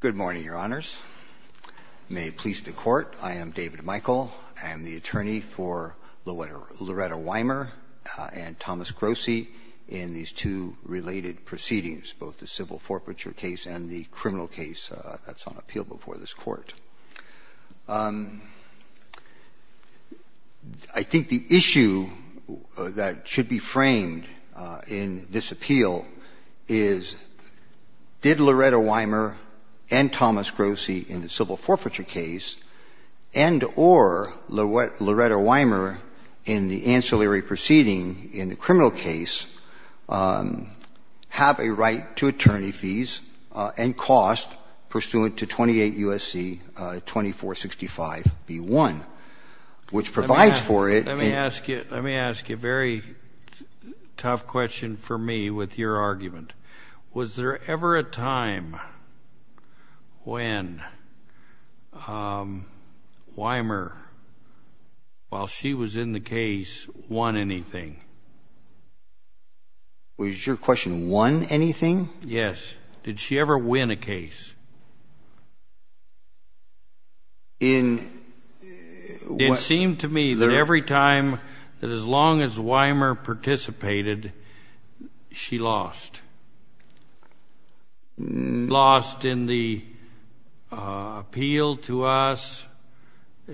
Good morning, Your Honors. May it please the Court, I am David Michael. I am the attorney for Loretta Wymer and Thomas Grossi in these two related proceedings, both the civil forfeiture case and the criminal case that's on appeal before this Court. I think the issue that should be framed in this appeal is, did Loretta Wymer and Thomas Grossi in the civil forfeiture case and or Loretta Wymer in the ancillary proceeding in the criminal case have a right to attorney fees and cost pursuant to 28 U.S.C. 2465B1, which provides for it. Let me ask you a very tough question for me with your argument. Was there ever a time when Wymer, while she was in the case, won anything? Was your question won anything? Yes. Did she ever win a case? It seemed to me that every time, that as long as Wymer participated, she lost. She lost in the appeal to us.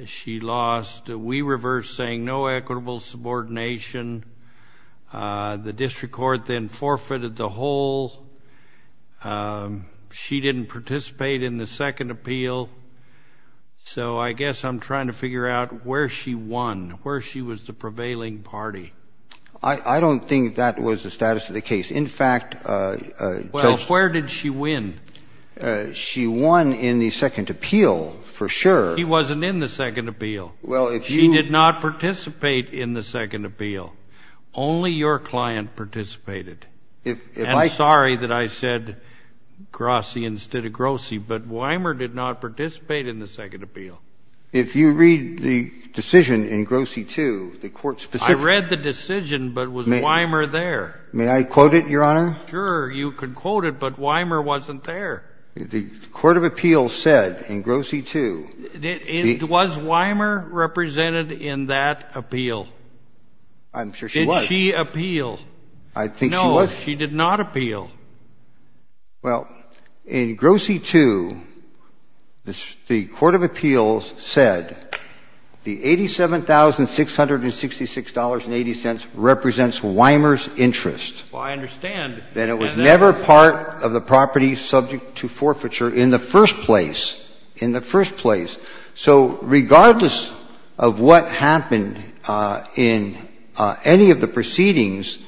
She lost. We reversed, saying no equitable subordination. The district court then forfeited the whole. She didn't participate in the second appeal. So I guess I'm trying to figure out where she won, where she was the prevailing party. I don't think that was the status of the case. In fact, Judge ---- Well, where did she win? She won in the second appeal, for sure. She wasn't in the second appeal. Well, if you ---- She did not participate in the second appeal. Only your client participated. If I ---- I'm sorry that I said Grossi instead of Grossi, but Wymer did not participate in the second appeal. If you read the decision in Grossi 2, the court specifically ---- I read the decision, but was Wymer there? May I quote it, Your Honor? Sure. You could quote it, but Wymer wasn't there. The court of appeals said in Grossi 2 ---- Was Wymer represented in that appeal? I'm sure she was. Did she appeal? No. I think she was. No, she did not appeal. Well, in Grossi 2, the court of appeals said the $87,666.80 represents Wymer's interest. Well, I understand. Then it was never part of the property subject to forfeiture in the first place, in the first place. So regardless of what happened in any of the proceedings,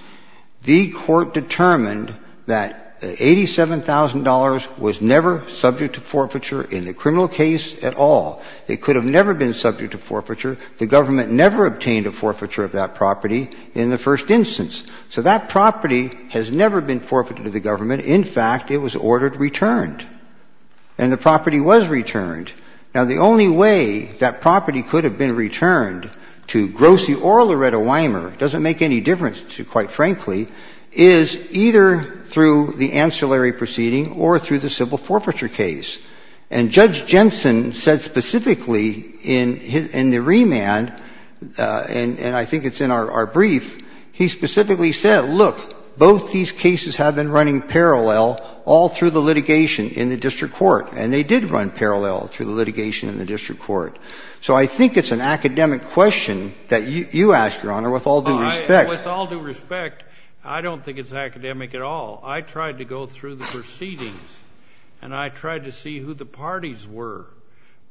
the court determined that $87,000 was never subject to forfeiture in the criminal case at all. It could have never been subject to forfeiture. The government never obtained a forfeiture of that property in the first instance. So that property has never been forfeited to the government. In fact, it was ordered returned. And the property was returned. Now, the only way that property could have been returned to Grossi or Loretta Wymer doesn't make any difference, quite frankly, is either through the ancillary proceeding or through the civil forfeiture case. And Judge Jensen said specifically in the remand, and I think it's in our brief, he specifically said, look, both these cases have been running parallel all through the litigation in the district court. And they did run parallel through the litigation in the district court. So I think it's an academic question that you ask, Your Honor, with all due respect. With all due respect, I don't think it's academic at all. I tried to go through the proceedings and I tried to see who the parties were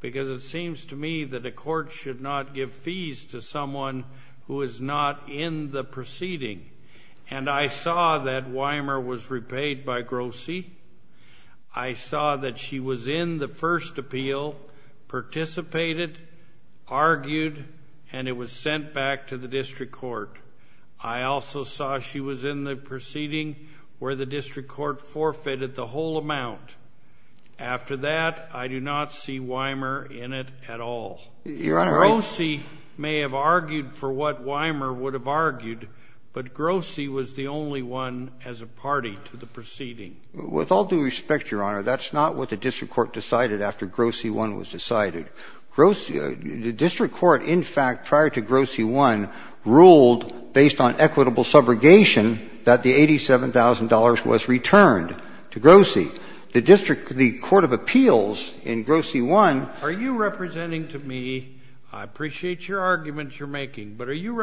because it seems to me that a court should not give fees to someone who is not in the proceeding. And I saw that Wymer was repaid by Grossi. I saw that she was in the first appeal, participated, argued, and it was sent back to the district court. I also saw she was in the proceeding where the district court forfeited the whole amount. After that, I do not see Wymer in it at all. Grossi may have argued for what Wymer would have argued, but Grossi was the only one as a party to the proceeding. With all due respect, Your Honor, that's not what the district court decided after Grossi 1 was decided. Grossi — the district court, in fact, prior to Grossi 1, ruled, based on equitable subrogation, that the $87,000 was returned to Grossi. The district — the court of appeals in Grossi 1 — Are you representing to me — I appreciate your arguments you're making, but are you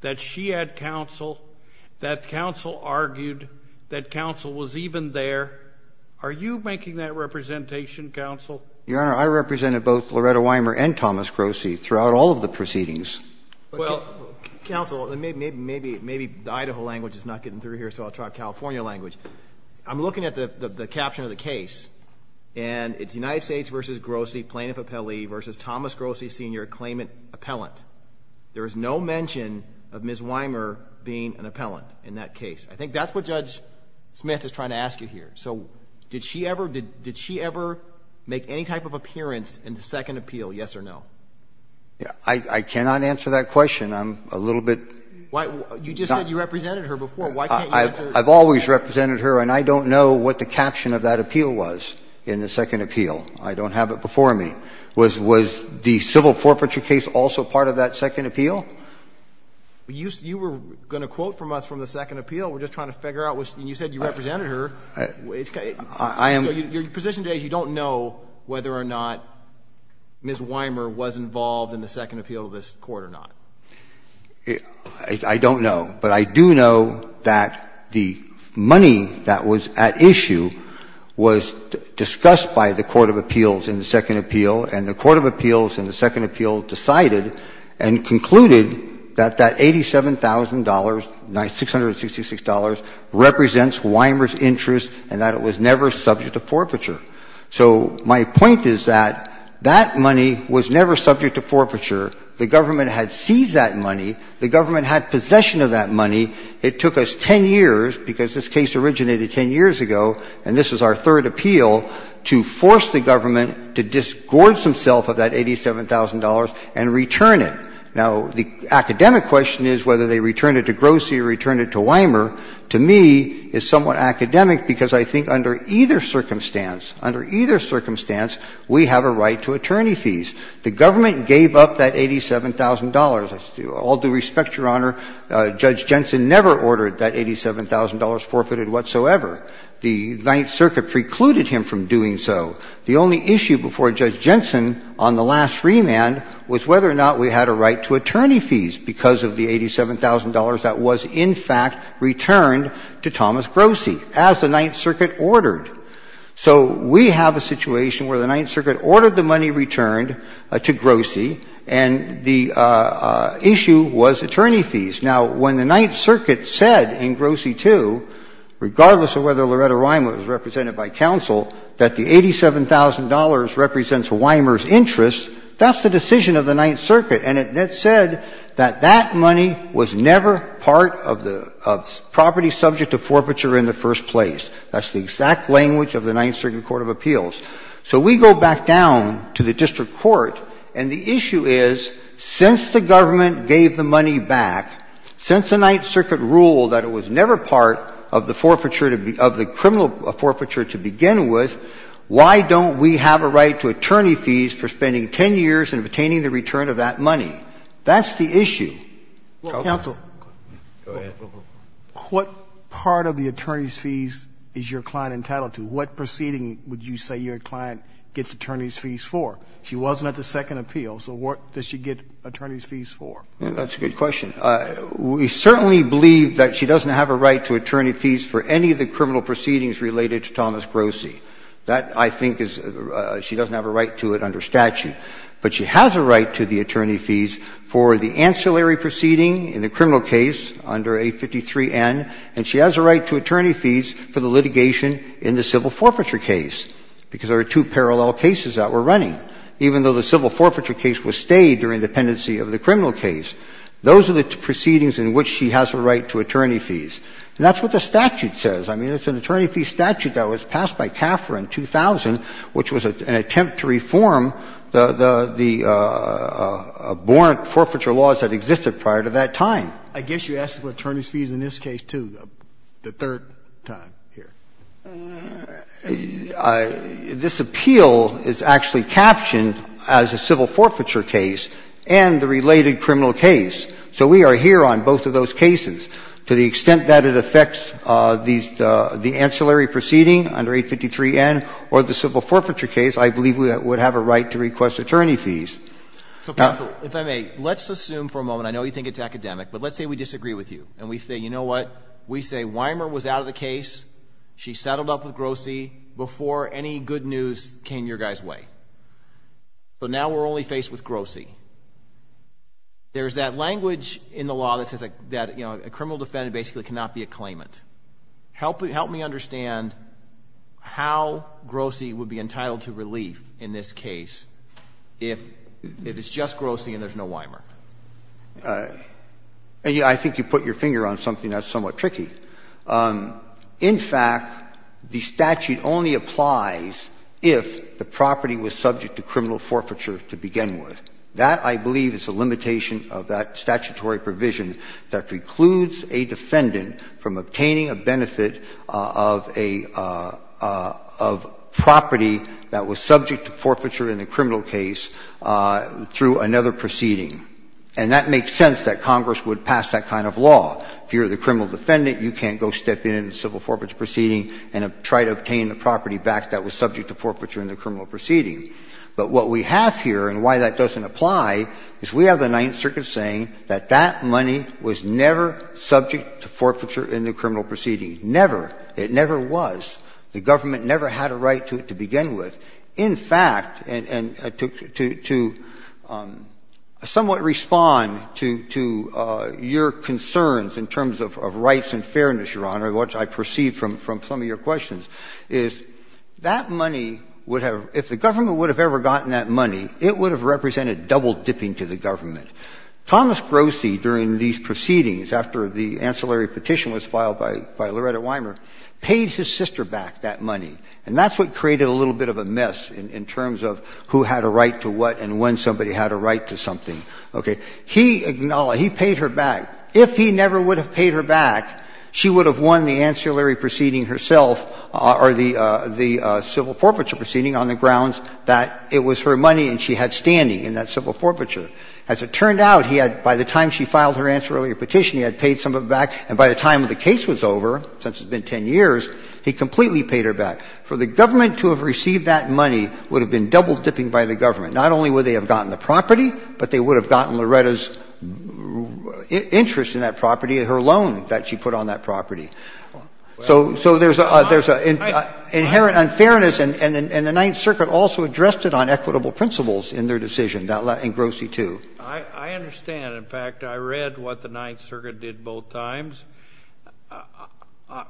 that she had counsel, that counsel argued, that counsel was even there? Are you making that representation, counsel? Your Honor, I represented both Loretta Wymer and Thomas Grossi throughout all of the proceedings. Well, counsel, maybe the Idaho language is not getting through here, so I'll try California language. I'm looking at the caption of the case, and it's United States v. Grossi, plaintiff appellee v. Thomas Grossi, Sr., claimant appellant. There is no mention of Ms. Wymer being an appellant in that case. I think that's what Judge Smith is trying to ask you here. So did she ever — did she ever make any type of appearance in the second appeal, yes or no? I cannot answer that question. I'm a little bit — You just said you represented her before. Why can't you answer — I've always represented her, and I don't know what the caption of that appeal was in the second appeal. I don't have it before me. Was the civil forfeiture case also part of that second appeal? You were going to quote from us from the second appeal. We're just trying to figure out what — and you said you represented her. I am — So your position today is you don't know whether or not Ms. Wymer was involved in the second appeal of this Court or not. I don't know. But I do know that the money that was at issue was discussed by the court of appeals in the second appeal, and the court of appeals in the second appeal decided and concluded that that $87,000, $666, represents Wymer's interest and that it was never subject to forfeiture. So my point is that that money was never subject to forfeiture. The government had seized that money. The government had possession of that money. It took us 10 years, because this case originated 10 years ago, and this is our third appeal, to force the government to disgorge themselves of that $87,000 and return it. Now, the academic question is whether they return it to Grossi or return it to Wymer to me is somewhat academic, because I think under either circumstance, under either circumstance, we have a right to attorney fees. The government gave up that $87,000. All due respect, Your Honor, Judge Jensen never ordered that $87,000 forfeited whatsoever. The Ninth Circuit precluded him from doing so. The only issue before Judge Jensen on the last remand was whether or not we had a right to attorney fees because of the $87,000 that was in fact returned to Thomas Grossi as the Ninth Circuit ordered. So we have a situation where the Ninth Circuit ordered the money returned to Grossi and the issue was attorney fees. Now, when the Ninth Circuit said in Grossi II, regardless of whether Loretta Wymer was represented by counsel, that the $87,000 represents Wymer's interests, that's the decision of the Ninth Circuit, and it said that that money was never part of the property subject to forfeiture in the first place. That's the exact language of the Ninth Circuit Court of Appeals. So we go back down to the district court, and the issue is since the government gave the money back, since the Ninth Circuit ruled that it was never part of the criminal forfeiture to begin with, why don't we have a right to attorney fees for spending 10 years and obtaining the return of that money? That's the issue. Roberts. Go ahead. What part of the attorney's fees is your client entitled to? What proceeding would you say your client gets attorney's fees for? She wasn't at the second appeal. So what does she get attorney's fees for? That's a good question. We certainly believe that she doesn't have a right to attorney fees for any of the criminal proceedings related to Thomas Grossi. That, I think, is she doesn't have a right to it under statute. But she has a right to the attorney fees for the ancillary proceeding in the criminal case under 853N, and she has a right to attorney fees for the litigation in the civil forfeiture case, because there are two parallel cases that were running. Even though the civil forfeiture case was stayed during the pendency of the criminal case, those are the proceedings in which she has a right to attorney fees. And that's what the statute says. I mean, it's an attorney fee statute that was passed by CAFRA in 2000, which was an attempt to reform the abhorrent forfeiture laws that existed prior to that time. I guess you asked for attorney's fees in this case, too, the third time here. This appeal is actually captioned as a civil forfeiture case and the related criminal case. So we are here on both of those cases. To the extent that it affects the ancillary proceeding under 853N or the civil forfeiture case, I believe we would have a right to request attorney fees. Now — So, counsel, if I may, let's assume for a moment, I know you think it's academic, but let's say we disagree with you. And we say, you know what? We say Weimer was out of the case. She settled up with Grossi before any good news came your guy's way. So now we're only faced with Grossi. There's that language in the law that says that, you know, a criminal defendant basically cannot be a claimant. Help me understand how Grossi would be entitled to relief in this case if it's just Grossi and there's no Weimer. And I think you put your finger on something that's somewhat tricky. In fact, the statute only applies if the property was subject to criminal forfeiture to begin with. That, I believe, is a limitation of that statutory provision that precludes a defendant from obtaining a benefit of a property that was subject to forfeiture in a criminal case through another proceeding. And that makes sense that Congress would pass that kind of law. If you're the criminal defendant, you can't go step in in a civil forfeiture proceeding and try to obtain the property back that was subject to forfeiture in the criminal proceeding. But what we have here and why that doesn't apply is we have the Ninth Circuit saying that that money was never subject to forfeiture in the criminal proceeding. Never. It never was. The government never had a right to it to begin with. In fact, and to somewhat respond to your concerns in terms of rights and fairness, Your Honor, which I perceive from some of your questions, is that money would have – if the government would have ever gotten that money, it would have represented double-dipping to the government. Thomas Grossi, during these proceedings, after the ancillary petition was filed by Loretta Weimer, paid his sister back that money. And that's what created a little bit of a mess in terms of who had a right to what and when somebody had a right to something. Okay. He acknowledged, he paid her back. If he never would have paid her back, she would have won the ancillary proceeding herself or the civil forfeiture proceeding on the grounds that it was her money and she had standing in that civil forfeiture. As it turned out, he had, by the time she filed her ancillary petition, he had paid somebody back, and by the time the case was over, since it's been 10 years, he completely paid her back. For the government to have received that money would have been double-dipping by the government. Not only would they have gotten the property, but they would have gotten Loretta's interest in that property, her loan that she put on that property. So there's inherent unfairness, and the Ninth Circuit also addressed it on equitable principles in their decision, and Grossi, too. I understand. In fact, I read what the Ninth Circuit did both times.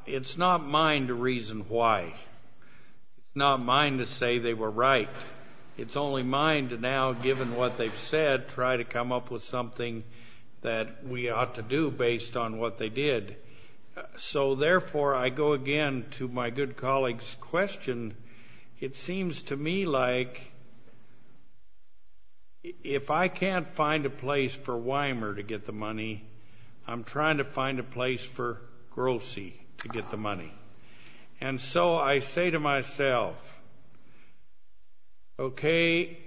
It's not mine to reason why, not mine to say they were right. It's only mine to now, given what they've said, try to come up with something that we ought to do based on what they did. So, therefore, I go again to my good colleague's question. It seems to me like if I can't find a place for Weimer to get the money, I'm trying to find a place for Grossi to get the money. And so I say to myself, okay,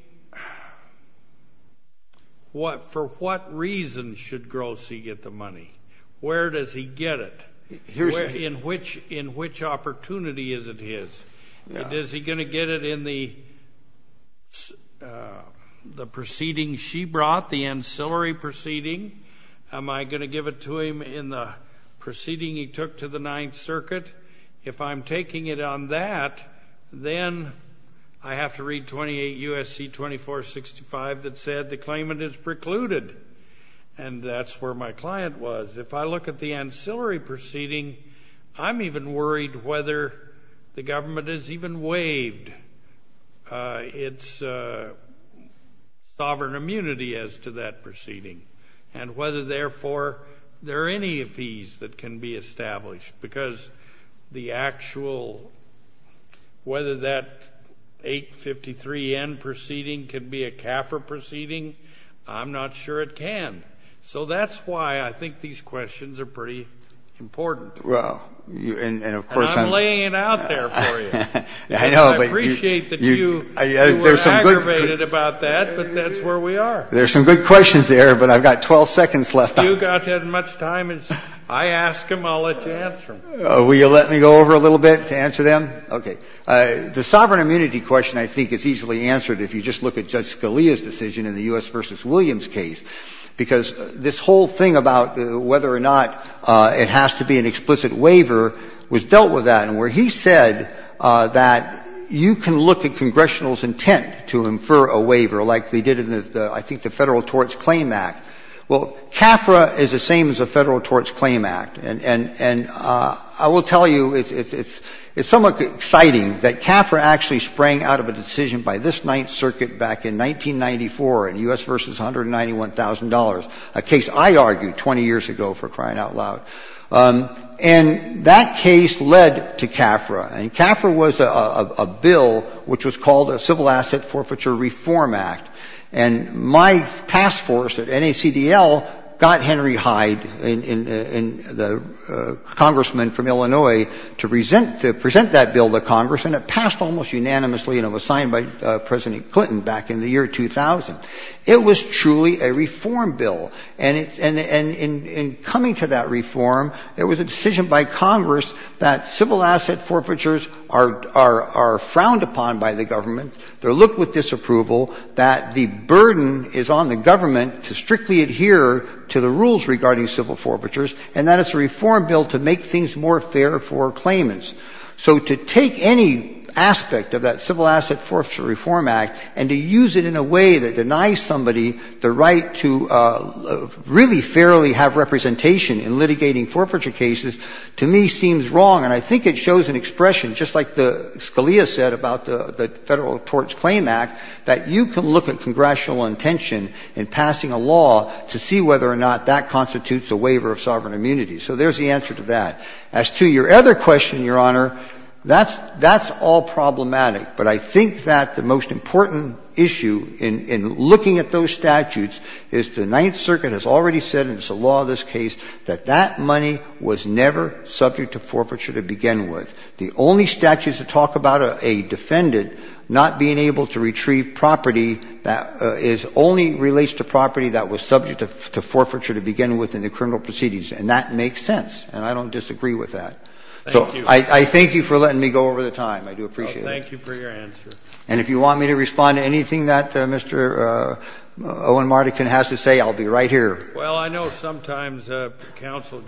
for what reason should Grossi get the money? Where does he get it? In which opportunity is it his? Is he going to get it in the proceeding she brought, the ancillary proceeding? Am I going to give it to him in the proceeding he took to the Ninth Circuit? If I'm taking it on that, then I have to read 28 U.S.C. 2465 that said the claimant is precluded, and that's where my client was. If I look at the ancillary proceeding, I'm even worried whether the government has even waived its sovereign immunity as to that proceeding, and whether, therefore, there are any fees that can be established, because the actual, whether that 853N proceeding can be a CAFRA proceeding, I'm not sure it can. So that's why I think these questions are pretty important. And I'm laying it out there for you. I appreciate that you were aggravated about that, but that's where we are. There are some good questions there, but I've got 12 seconds left. You've got as much time as I ask them, I'll let you answer them. Will you let me go over a little bit to answer them? Okay. The sovereign immunity question, I think, is easily answered if you just look at Judge Scalia's decision in the U.S. v. Williams case, because this whole thing about whether or not it has to be an explicit waiver was dealt with that, and where he said that you can look at Congressional's intent to infer a waiver, like they did in the, I think, the Federal Torts Claim Act. Well, CAFRA is the same as the Federal Torts Claim Act. And I will tell you, it's somewhat exciting that CAFRA actually sprang out of a decision by this Ninth Circuit back in 1994 in U.S. v. $191,000, a case I argued 20 years ago for crying out loud. And that case led to CAFRA. And CAFRA was a bill which was called a Civil Asset Forfeiture Reform Act. And my task force at NACDL got Henry Hyde, the congressman from Illinois, to present that bill to Congress, and it passed almost unanimously, and it was signed by President Clinton back in the year 2000. It was truly a reform bill. And in coming to that reform, there was a decision by Congress that civil asset forfeitures are frowned upon by the government, they're looked with disapproval, that the burden is on the government to strictly adhere to the rules regarding civil forfeitures, and that it's a reform bill to make things more fair for claimants. So to take any aspect of that Civil Asset Forfeiture Reform Act and to use it in a way that denies somebody the right to really fairly have representation in litigating forfeiture cases, to me, seems wrong. And I think it shows an expression, just like Scalia said about the Federal Tort Claim Act, that you can look at congressional intention in passing a law to see whether or not that constitutes a waiver of sovereign immunity. So there's the answer to that. As to your other question, Your Honor, that's all problematic. But I think that the most important issue in looking at those statutes is the Ninth Circuit has already said, and it's the law of this case, that that money was never subject to forfeiture to begin with. The only statutes that talk about a defendant not being able to retrieve property is only relates to property that was subject to forfeiture to begin with in the criminal proceedings. And that makes sense. And I don't disagree with that. So I thank you for letting me go over the time. I do appreciate it. Well, thank you for your answer. And if you want me to respond to anything that Mr. Owen Mardikin has to say, I'll be right here. Well, I know sometimes counsel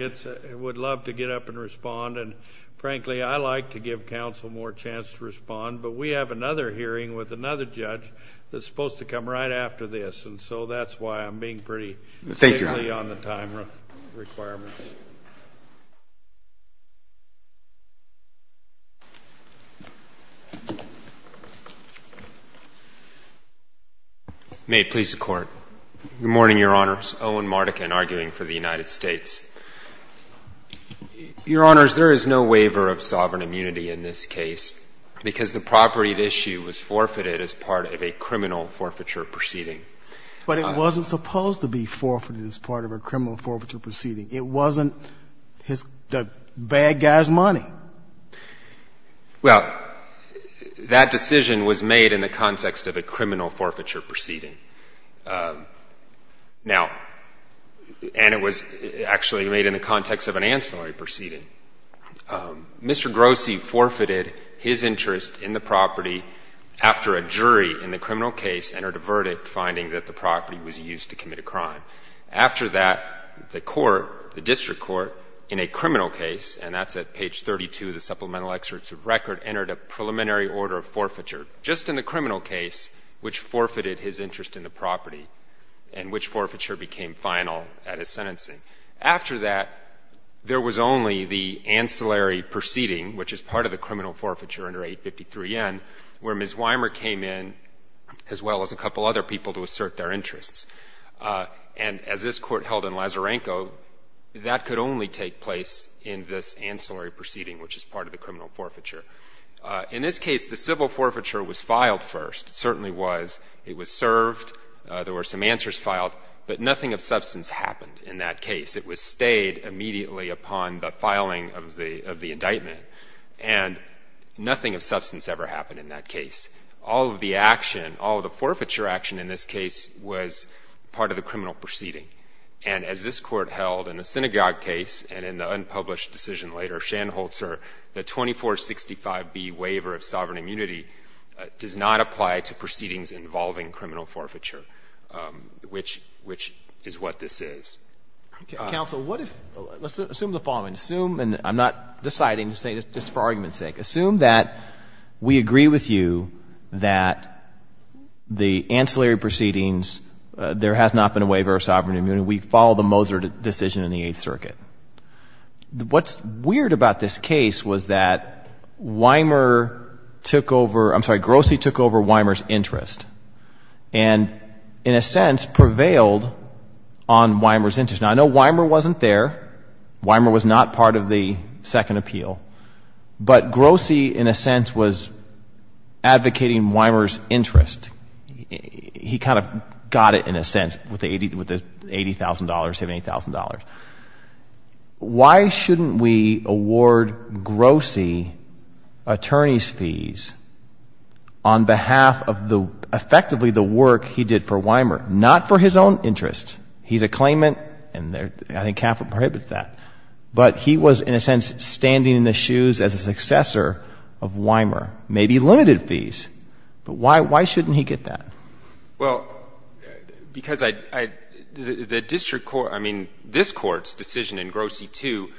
would love to get up and respond. And frankly, I like to give counsel more chance to respond. But we have another hearing with another judge that's supposed to come right after this. And so that's why I'm being pretty safely on the time requirements. May it please the Court. Good morning, Your Honors. Owen Mardikin, arguing for the United States. Your Honors, there is no waiver of sovereign immunity in this case because the property at issue was forfeited as part of a criminal forfeiture proceeding. But it wasn't supposed to be forfeited as part of a criminal forfeiture proceeding. It wasn't the bad guy's money. Well, that decision was made in the context of a criminal forfeiture proceeding. Now, and it was actually made in the context of an ancillary proceeding. Mr. Grossi forfeited his interest in the property after a jury in the criminal case entered a verdict finding that the property was used to commit a crime. After that, the court, the district court, in a criminal case, and that's at page 32 of the supplemental excerpt of record, entered a preliminary order of forfeiture just in the criminal case which forfeited his interest in the property and which forfeiture became final at his sentencing. After that, there was only the ancillary proceeding, which is part of the criminal forfeiture under 853N, where Ms. Weimer came in, as well as a couple other people to assert their interests. And as this court held in Lazarenko, that could only take place in this ancillary proceeding, which is part of the criminal forfeiture. In this case, the civil forfeiture was filed first. It certainly was. It was served. There were some answers filed, but nothing of substance happened in that case. It was stayed immediately upon the filing of the indictment, and nothing of substance ever happened in that case. All of the action, all of the forfeiture action in this case was part of the criminal proceeding. And as this court held in the synagogue case and in the unpublished decision later, Shanholzer, the 2465B waiver of sovereign immunity does not apply to proceedings involving criminal forfeiture, which is what this is. Okay. Counsel, what if – let's assume the following. Assume – and I'm not deciding, just for argument's sake – assume that we agree with you that the ancillary proceedings, there has not been a waiver of sovereign immunity. We follow the Moser decision in the Eighth Circuit. What's weird about this case was that Weimer took over – I'm sorry, Grossi took over Weimer's interest and, in a sense, prevailed on Weimer's interest. Now, I know Weimer wasn't there. Weimer was not part of the second appeal. But Grossi, in a sense, was advocating Weimer's interest. He kind of got it, in a sense, with the $80,000, $78,000. Why shouldn't we award Grossi attorney's fees on behalf of the – effectively the work he did for Weimer? Not for his own interest. He's a claimant, and I think capital prohibits that. But he was, in a sense, standing in the shoes as a successor of Weimer. Maybe limited fees. But why shouldn't he get that? Well, because I – the district court – I mean, this Court's decision in Grossi 2,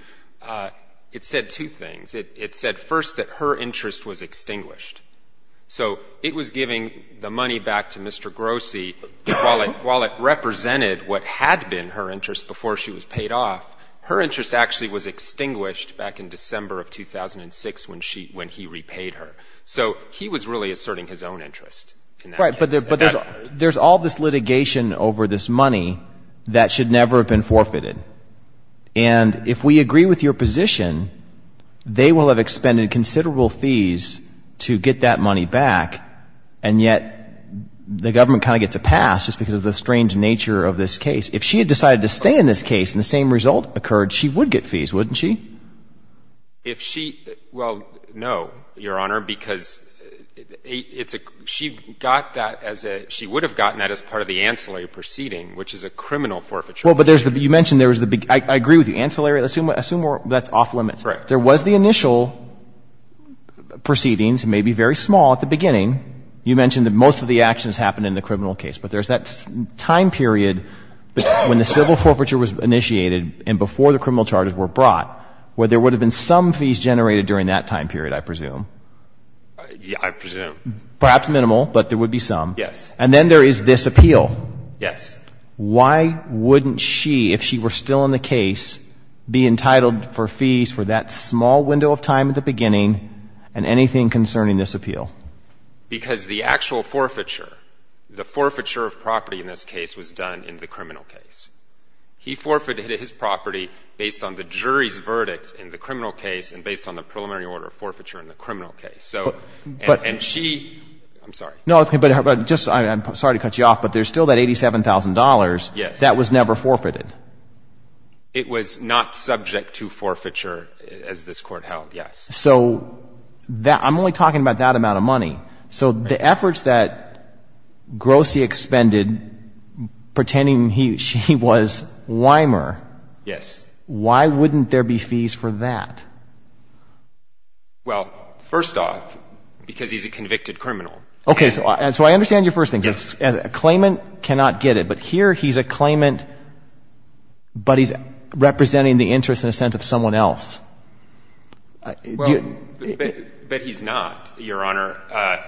it said two things. It said, first, that her interest was extinguished. So it was giving the money back to Mr. Grossi while it represented what had been her interest before she was paid off. Her interest actually was extinguished back in December of 2006 when he repaid her. So he was really asserting his own interest in that case. Right. But there's all this litigation over this money that should never have been forfeited. And if we agree with your position, they will have expended considerable fees to get that money back, and yet the government kind of gets a pass just because of the strange nature of this case. If she had decided to stay in this case and the same result occurred, she would get fees, wouldn't she? If she – well, no, Your Honor, because it's a – she got that as a – she would have gotten that as part of the ancillary proceeding, which is a criminal forfeiture. Well, but there's the – you mentioned there was the – I agree with you. Ancillary – assume that's off limits. Correct. There was the initial proceedings, maybe very small at the beginning. You mentioned that most of the actions happened in the criminal case. But there's that time period when the civil forfeiture was initiated and before the criminal charges were brought where there would have been some fees generated during that time period, I presume. I presume. Perhaps minimal, but there would be some. Yes. And then there is this appeal. Yes. Why wouldn't she, if she were still in the case, be entitled for fees for that small window of time at the beginning and anything concerning this appeal? Because the actual forfeiture, the forfeiture of property in this case was done in the criminal case. He forfeited his property based on the jury's verdict in the criminal case and based on the preliminary order of forfeiture in the criminal case. So – and she – I'm sorry. No, but just – I'm sorry to cut you off, but there's still that $87,000. Yes. That was never forfeited. It was not subject to forfeiture as this Court held, yes. So that – I'm only talking about that amount of money. So the efforts that Grossi expended pretending he was Weimer. Yes. Why wouldn't there be fees for that? Well, first off, because he's a convicted criminal. Okay. So I understand your first thing. Yes. A claimant cannot get it, but here he's a claimant, but he's representing the But he's not, Your Honor.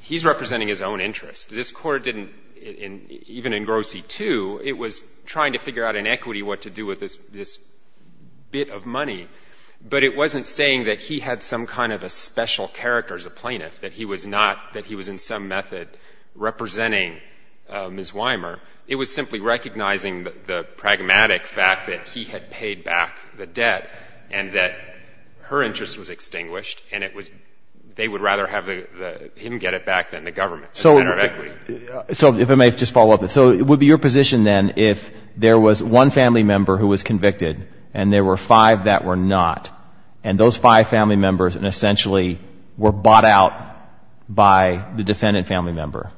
He's representing his own interest. This Court didn't – even in Grossi II, it was trying to figure out in equity what to do with this bit of money. But it wasn't saying that he had some kind of a special character as a plaintiff, that he was not – that he was in some method representing Ms. Weimer. It was simply recognizing the pragmatic fact that he had paid back the debt and that her interest was extinguished and it was – they would rather have him get it back than the government as a matter of equity. So if I may just follow up. So it would be your position then if there was one family member who was convicted and there were five that were not, and those five family members essentially were bought out by the defendant family member,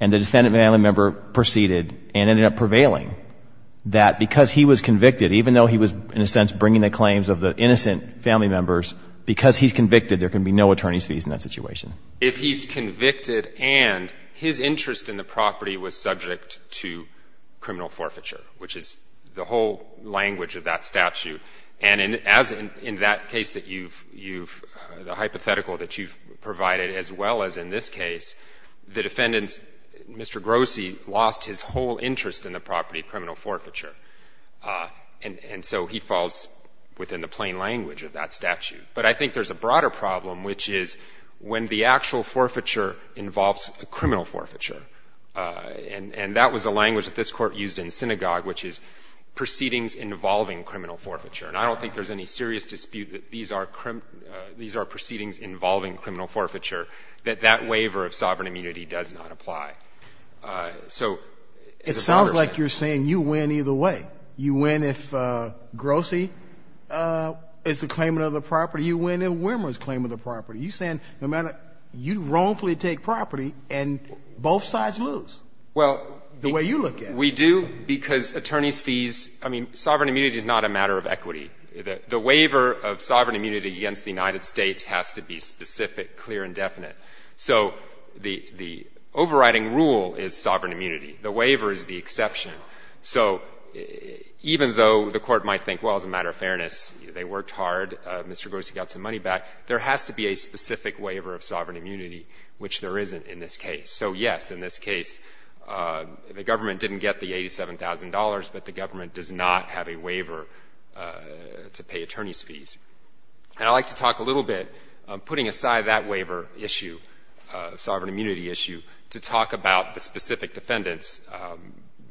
and the defendant family member proceeded and ended up prevailing, that because he was convicted, even though he was, in a sense, bringing the claims of the innocent family members, because he's convicted, there can be no attorney's fees in that situation? If he's convicted and his interest in the property was subject to criminal forfeiture, which is the whole language of that statute, and as in that case that you've – the hypothetical that you've provided, as well as in this case, the defendant's – Mr. Grossi lost his whole interest in the property, criminal forfeiture. And so he falls within the plain language of that statute. But I think there's a broader problem, which is when the actual forfeiture involves criminal forfeiture, and that was the language that this Court used in synagogue, which is proceedings involving criminal forfeiture. And I don't think there's any serious dispute that these are proceedings involving criminal forfeiture, that that waiver of sovereign immunity does not apply. So – It sounds like you're saying you win either way. You win if Grossi is the claimant of the property. You win if Wimmer is the claimant of the property. You're saying no matter – you wrongfully take property, and both sides lose. Well – The way you look at it. We do, because attorney's fees – I mean, sovereign immunity is not a matter of equity. The waiver of sovereign immunity against the United States has to be specific, clear, and definite. So the overriding rule is sovereign immunity. The waiver is the exception. So even though the Court might think, well, as a matter of fairness, they worked hard, Mr. Grossi got some money back, there has to be a specific waiver of sovereign immunity, which there isn't in this case. So, yes, in this case, the government didn't get the $87,000, but the government does not have a waiver to pay attorney's fees. And I'd like to talk a little bit, putting aside that waiver issue, sovereign immunity issue, to talk about the specific defendants,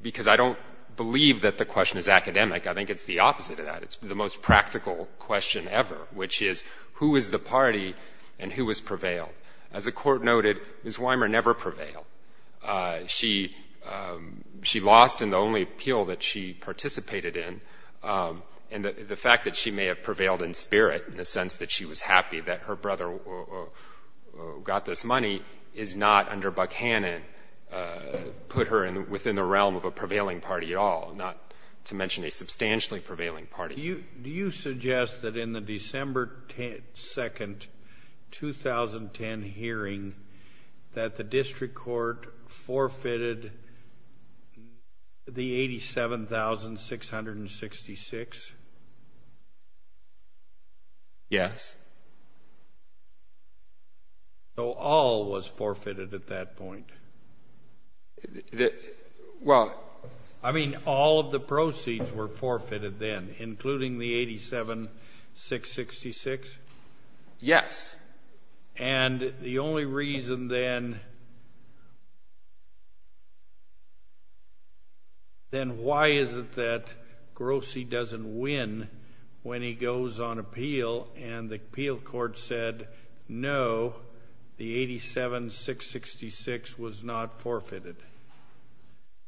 because I don't believe that the question is academic. I think it's the opposite of that. It's the most practical question ever, which is, who is the party and who has prevailed? As the Court noted, Ms. Wimmer never prevailed. She lost in the only appeal that she participated in, and the fact that she may have prevailed in spirit, in the sense that she was happy that her brother got this money, is not, under Buckhannon, put her within the realm of a prevailing party at all, not to mention a substantially prevailing party. Do you suggest that in the December 2, 2010 hearing, that the district court forfeited the $87,666? Yes. So all was forfeited at that point? Well, I mean, all of the proceeds were forfeited then, including the $87,666? Yes. And the only reason then, then why is it that Grossi doesn't win when he goes on appeal, and the appeal court said, no, the $87,666 was not forfeited?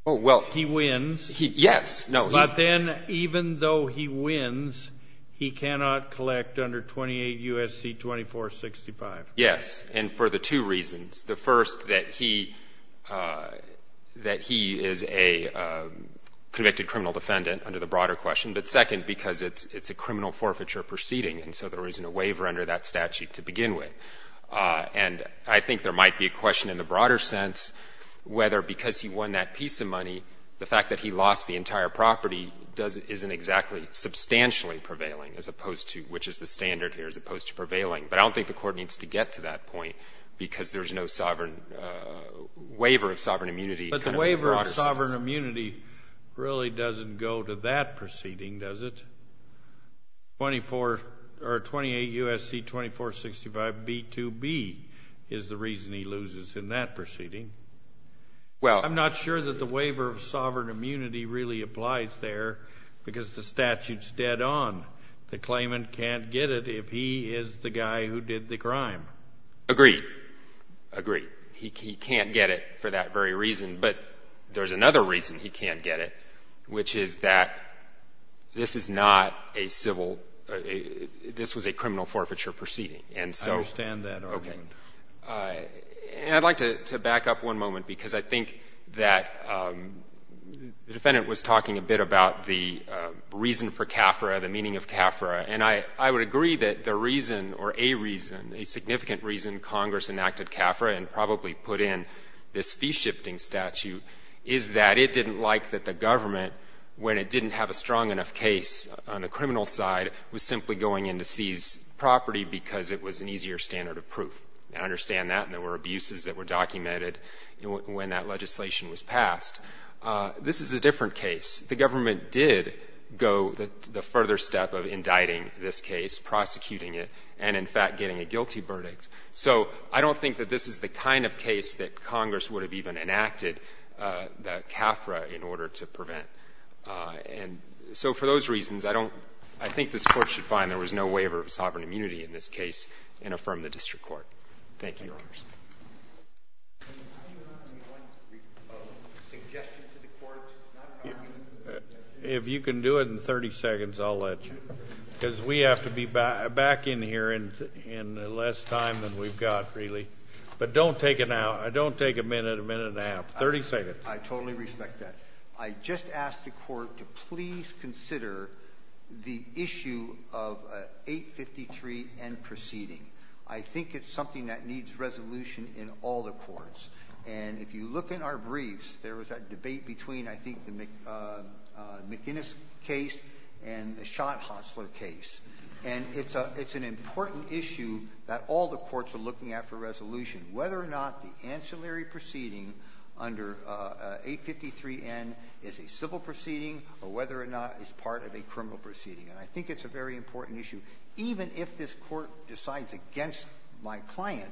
Oh, well. He wins. Yes. But then, even though he wins, he cannot collect under 28 U.S.C. 2465. Yes, and for the two reasons. The first, that he is a convicted criminal defendant, under the broader question, but second, because it's a criminal forfeiture proceeding, and so there isn't a waiver under that statute to begin with. And I think there might be a question in the broader sense whether, because he won that piece of money, the fact that he lost the entire property doesn't — isn't exactly substantially prevailing, as opposed to — which is the standard here, as opposed to prevailing. But I don't think the Court needs to get to that point, because there's no sovereign — waiver of sovereign immunity kind of broader sense. Sovereign immunity really doesn't go to that proceeding, does it? Twenty-four — or 28 U.S.C. 2465b2b is the reason he loses in that proceeding. Well — I'm not sure that the waiver of sovereign immunity really applies there, because the statute's dead on. The claimant can't get it if he is the guy who did the crime. Agree. Agree. He can't get it for that very reason. But there's another reason he can't get it, which is that this is not a civil — this was a criminal forfeiture proceeding. And so — I understand that argument. Okay. And I'd like to back up one moment, because I think that the Defendant was talking a bit about the reason for CAFRA, the meaning of CAFRA. And I would agree that the reason or a reason, a significant reason Congress enacted CAFRA and probably put in this fee-shifting statute is that it didn't like that the government, when it didn't have a strong enough case on the criminal side, was simply going in to seize property because it was an easier standard of proof. I understand that. And there were abuses that were documented when that legislation was passed. This is a different case. The government did go the further step of indicting this case, prosecuting it, and, in fact, getting a guilty verdict. So I don't think that this is the kind of case that Congress would have even enacted the CAFRA in order to prevent. And so for those reasons, I don't — I think this Court should find there was no waiver of sovereign immunity in this case and affirm the district court. Thank you, Your Honors. Thank you. How do you want — do you want a suggestion to the Court not to have immunity? If you can do it in 30 seconds, I'll let you. Because we have to be back in here in less time than we've got, really. But don't take a minute, a minute and a half. Thirty seconds. I totally respect that. I just ask the Court to please consider the issue of 853 and proceeding. I think it's something that needs resolution in all the courts. And if you look in our briefs, there was a debate between, I think, the McInnes case and the Schott-Hasler case. And it's an important issue that all the courts are looking at for resolution, whether or not the ancillary proceeding under 853N is a civil proceeding or whether or not it's part of a criminal proceeding. And I think it's a very important issue. Even if this Court decides against my client,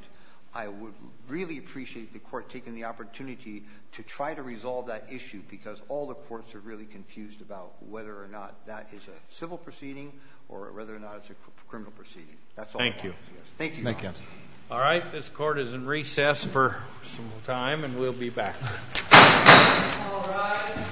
I would really appreciate the Court taking the opportunity to try to resolve that issue because all the courts are really confused about whether or not that is a civil proceeding or whether or not it's a criminal proceeding. That's all I have to say. Thank you. All right. This Court is in recess for some time, and we'll be back.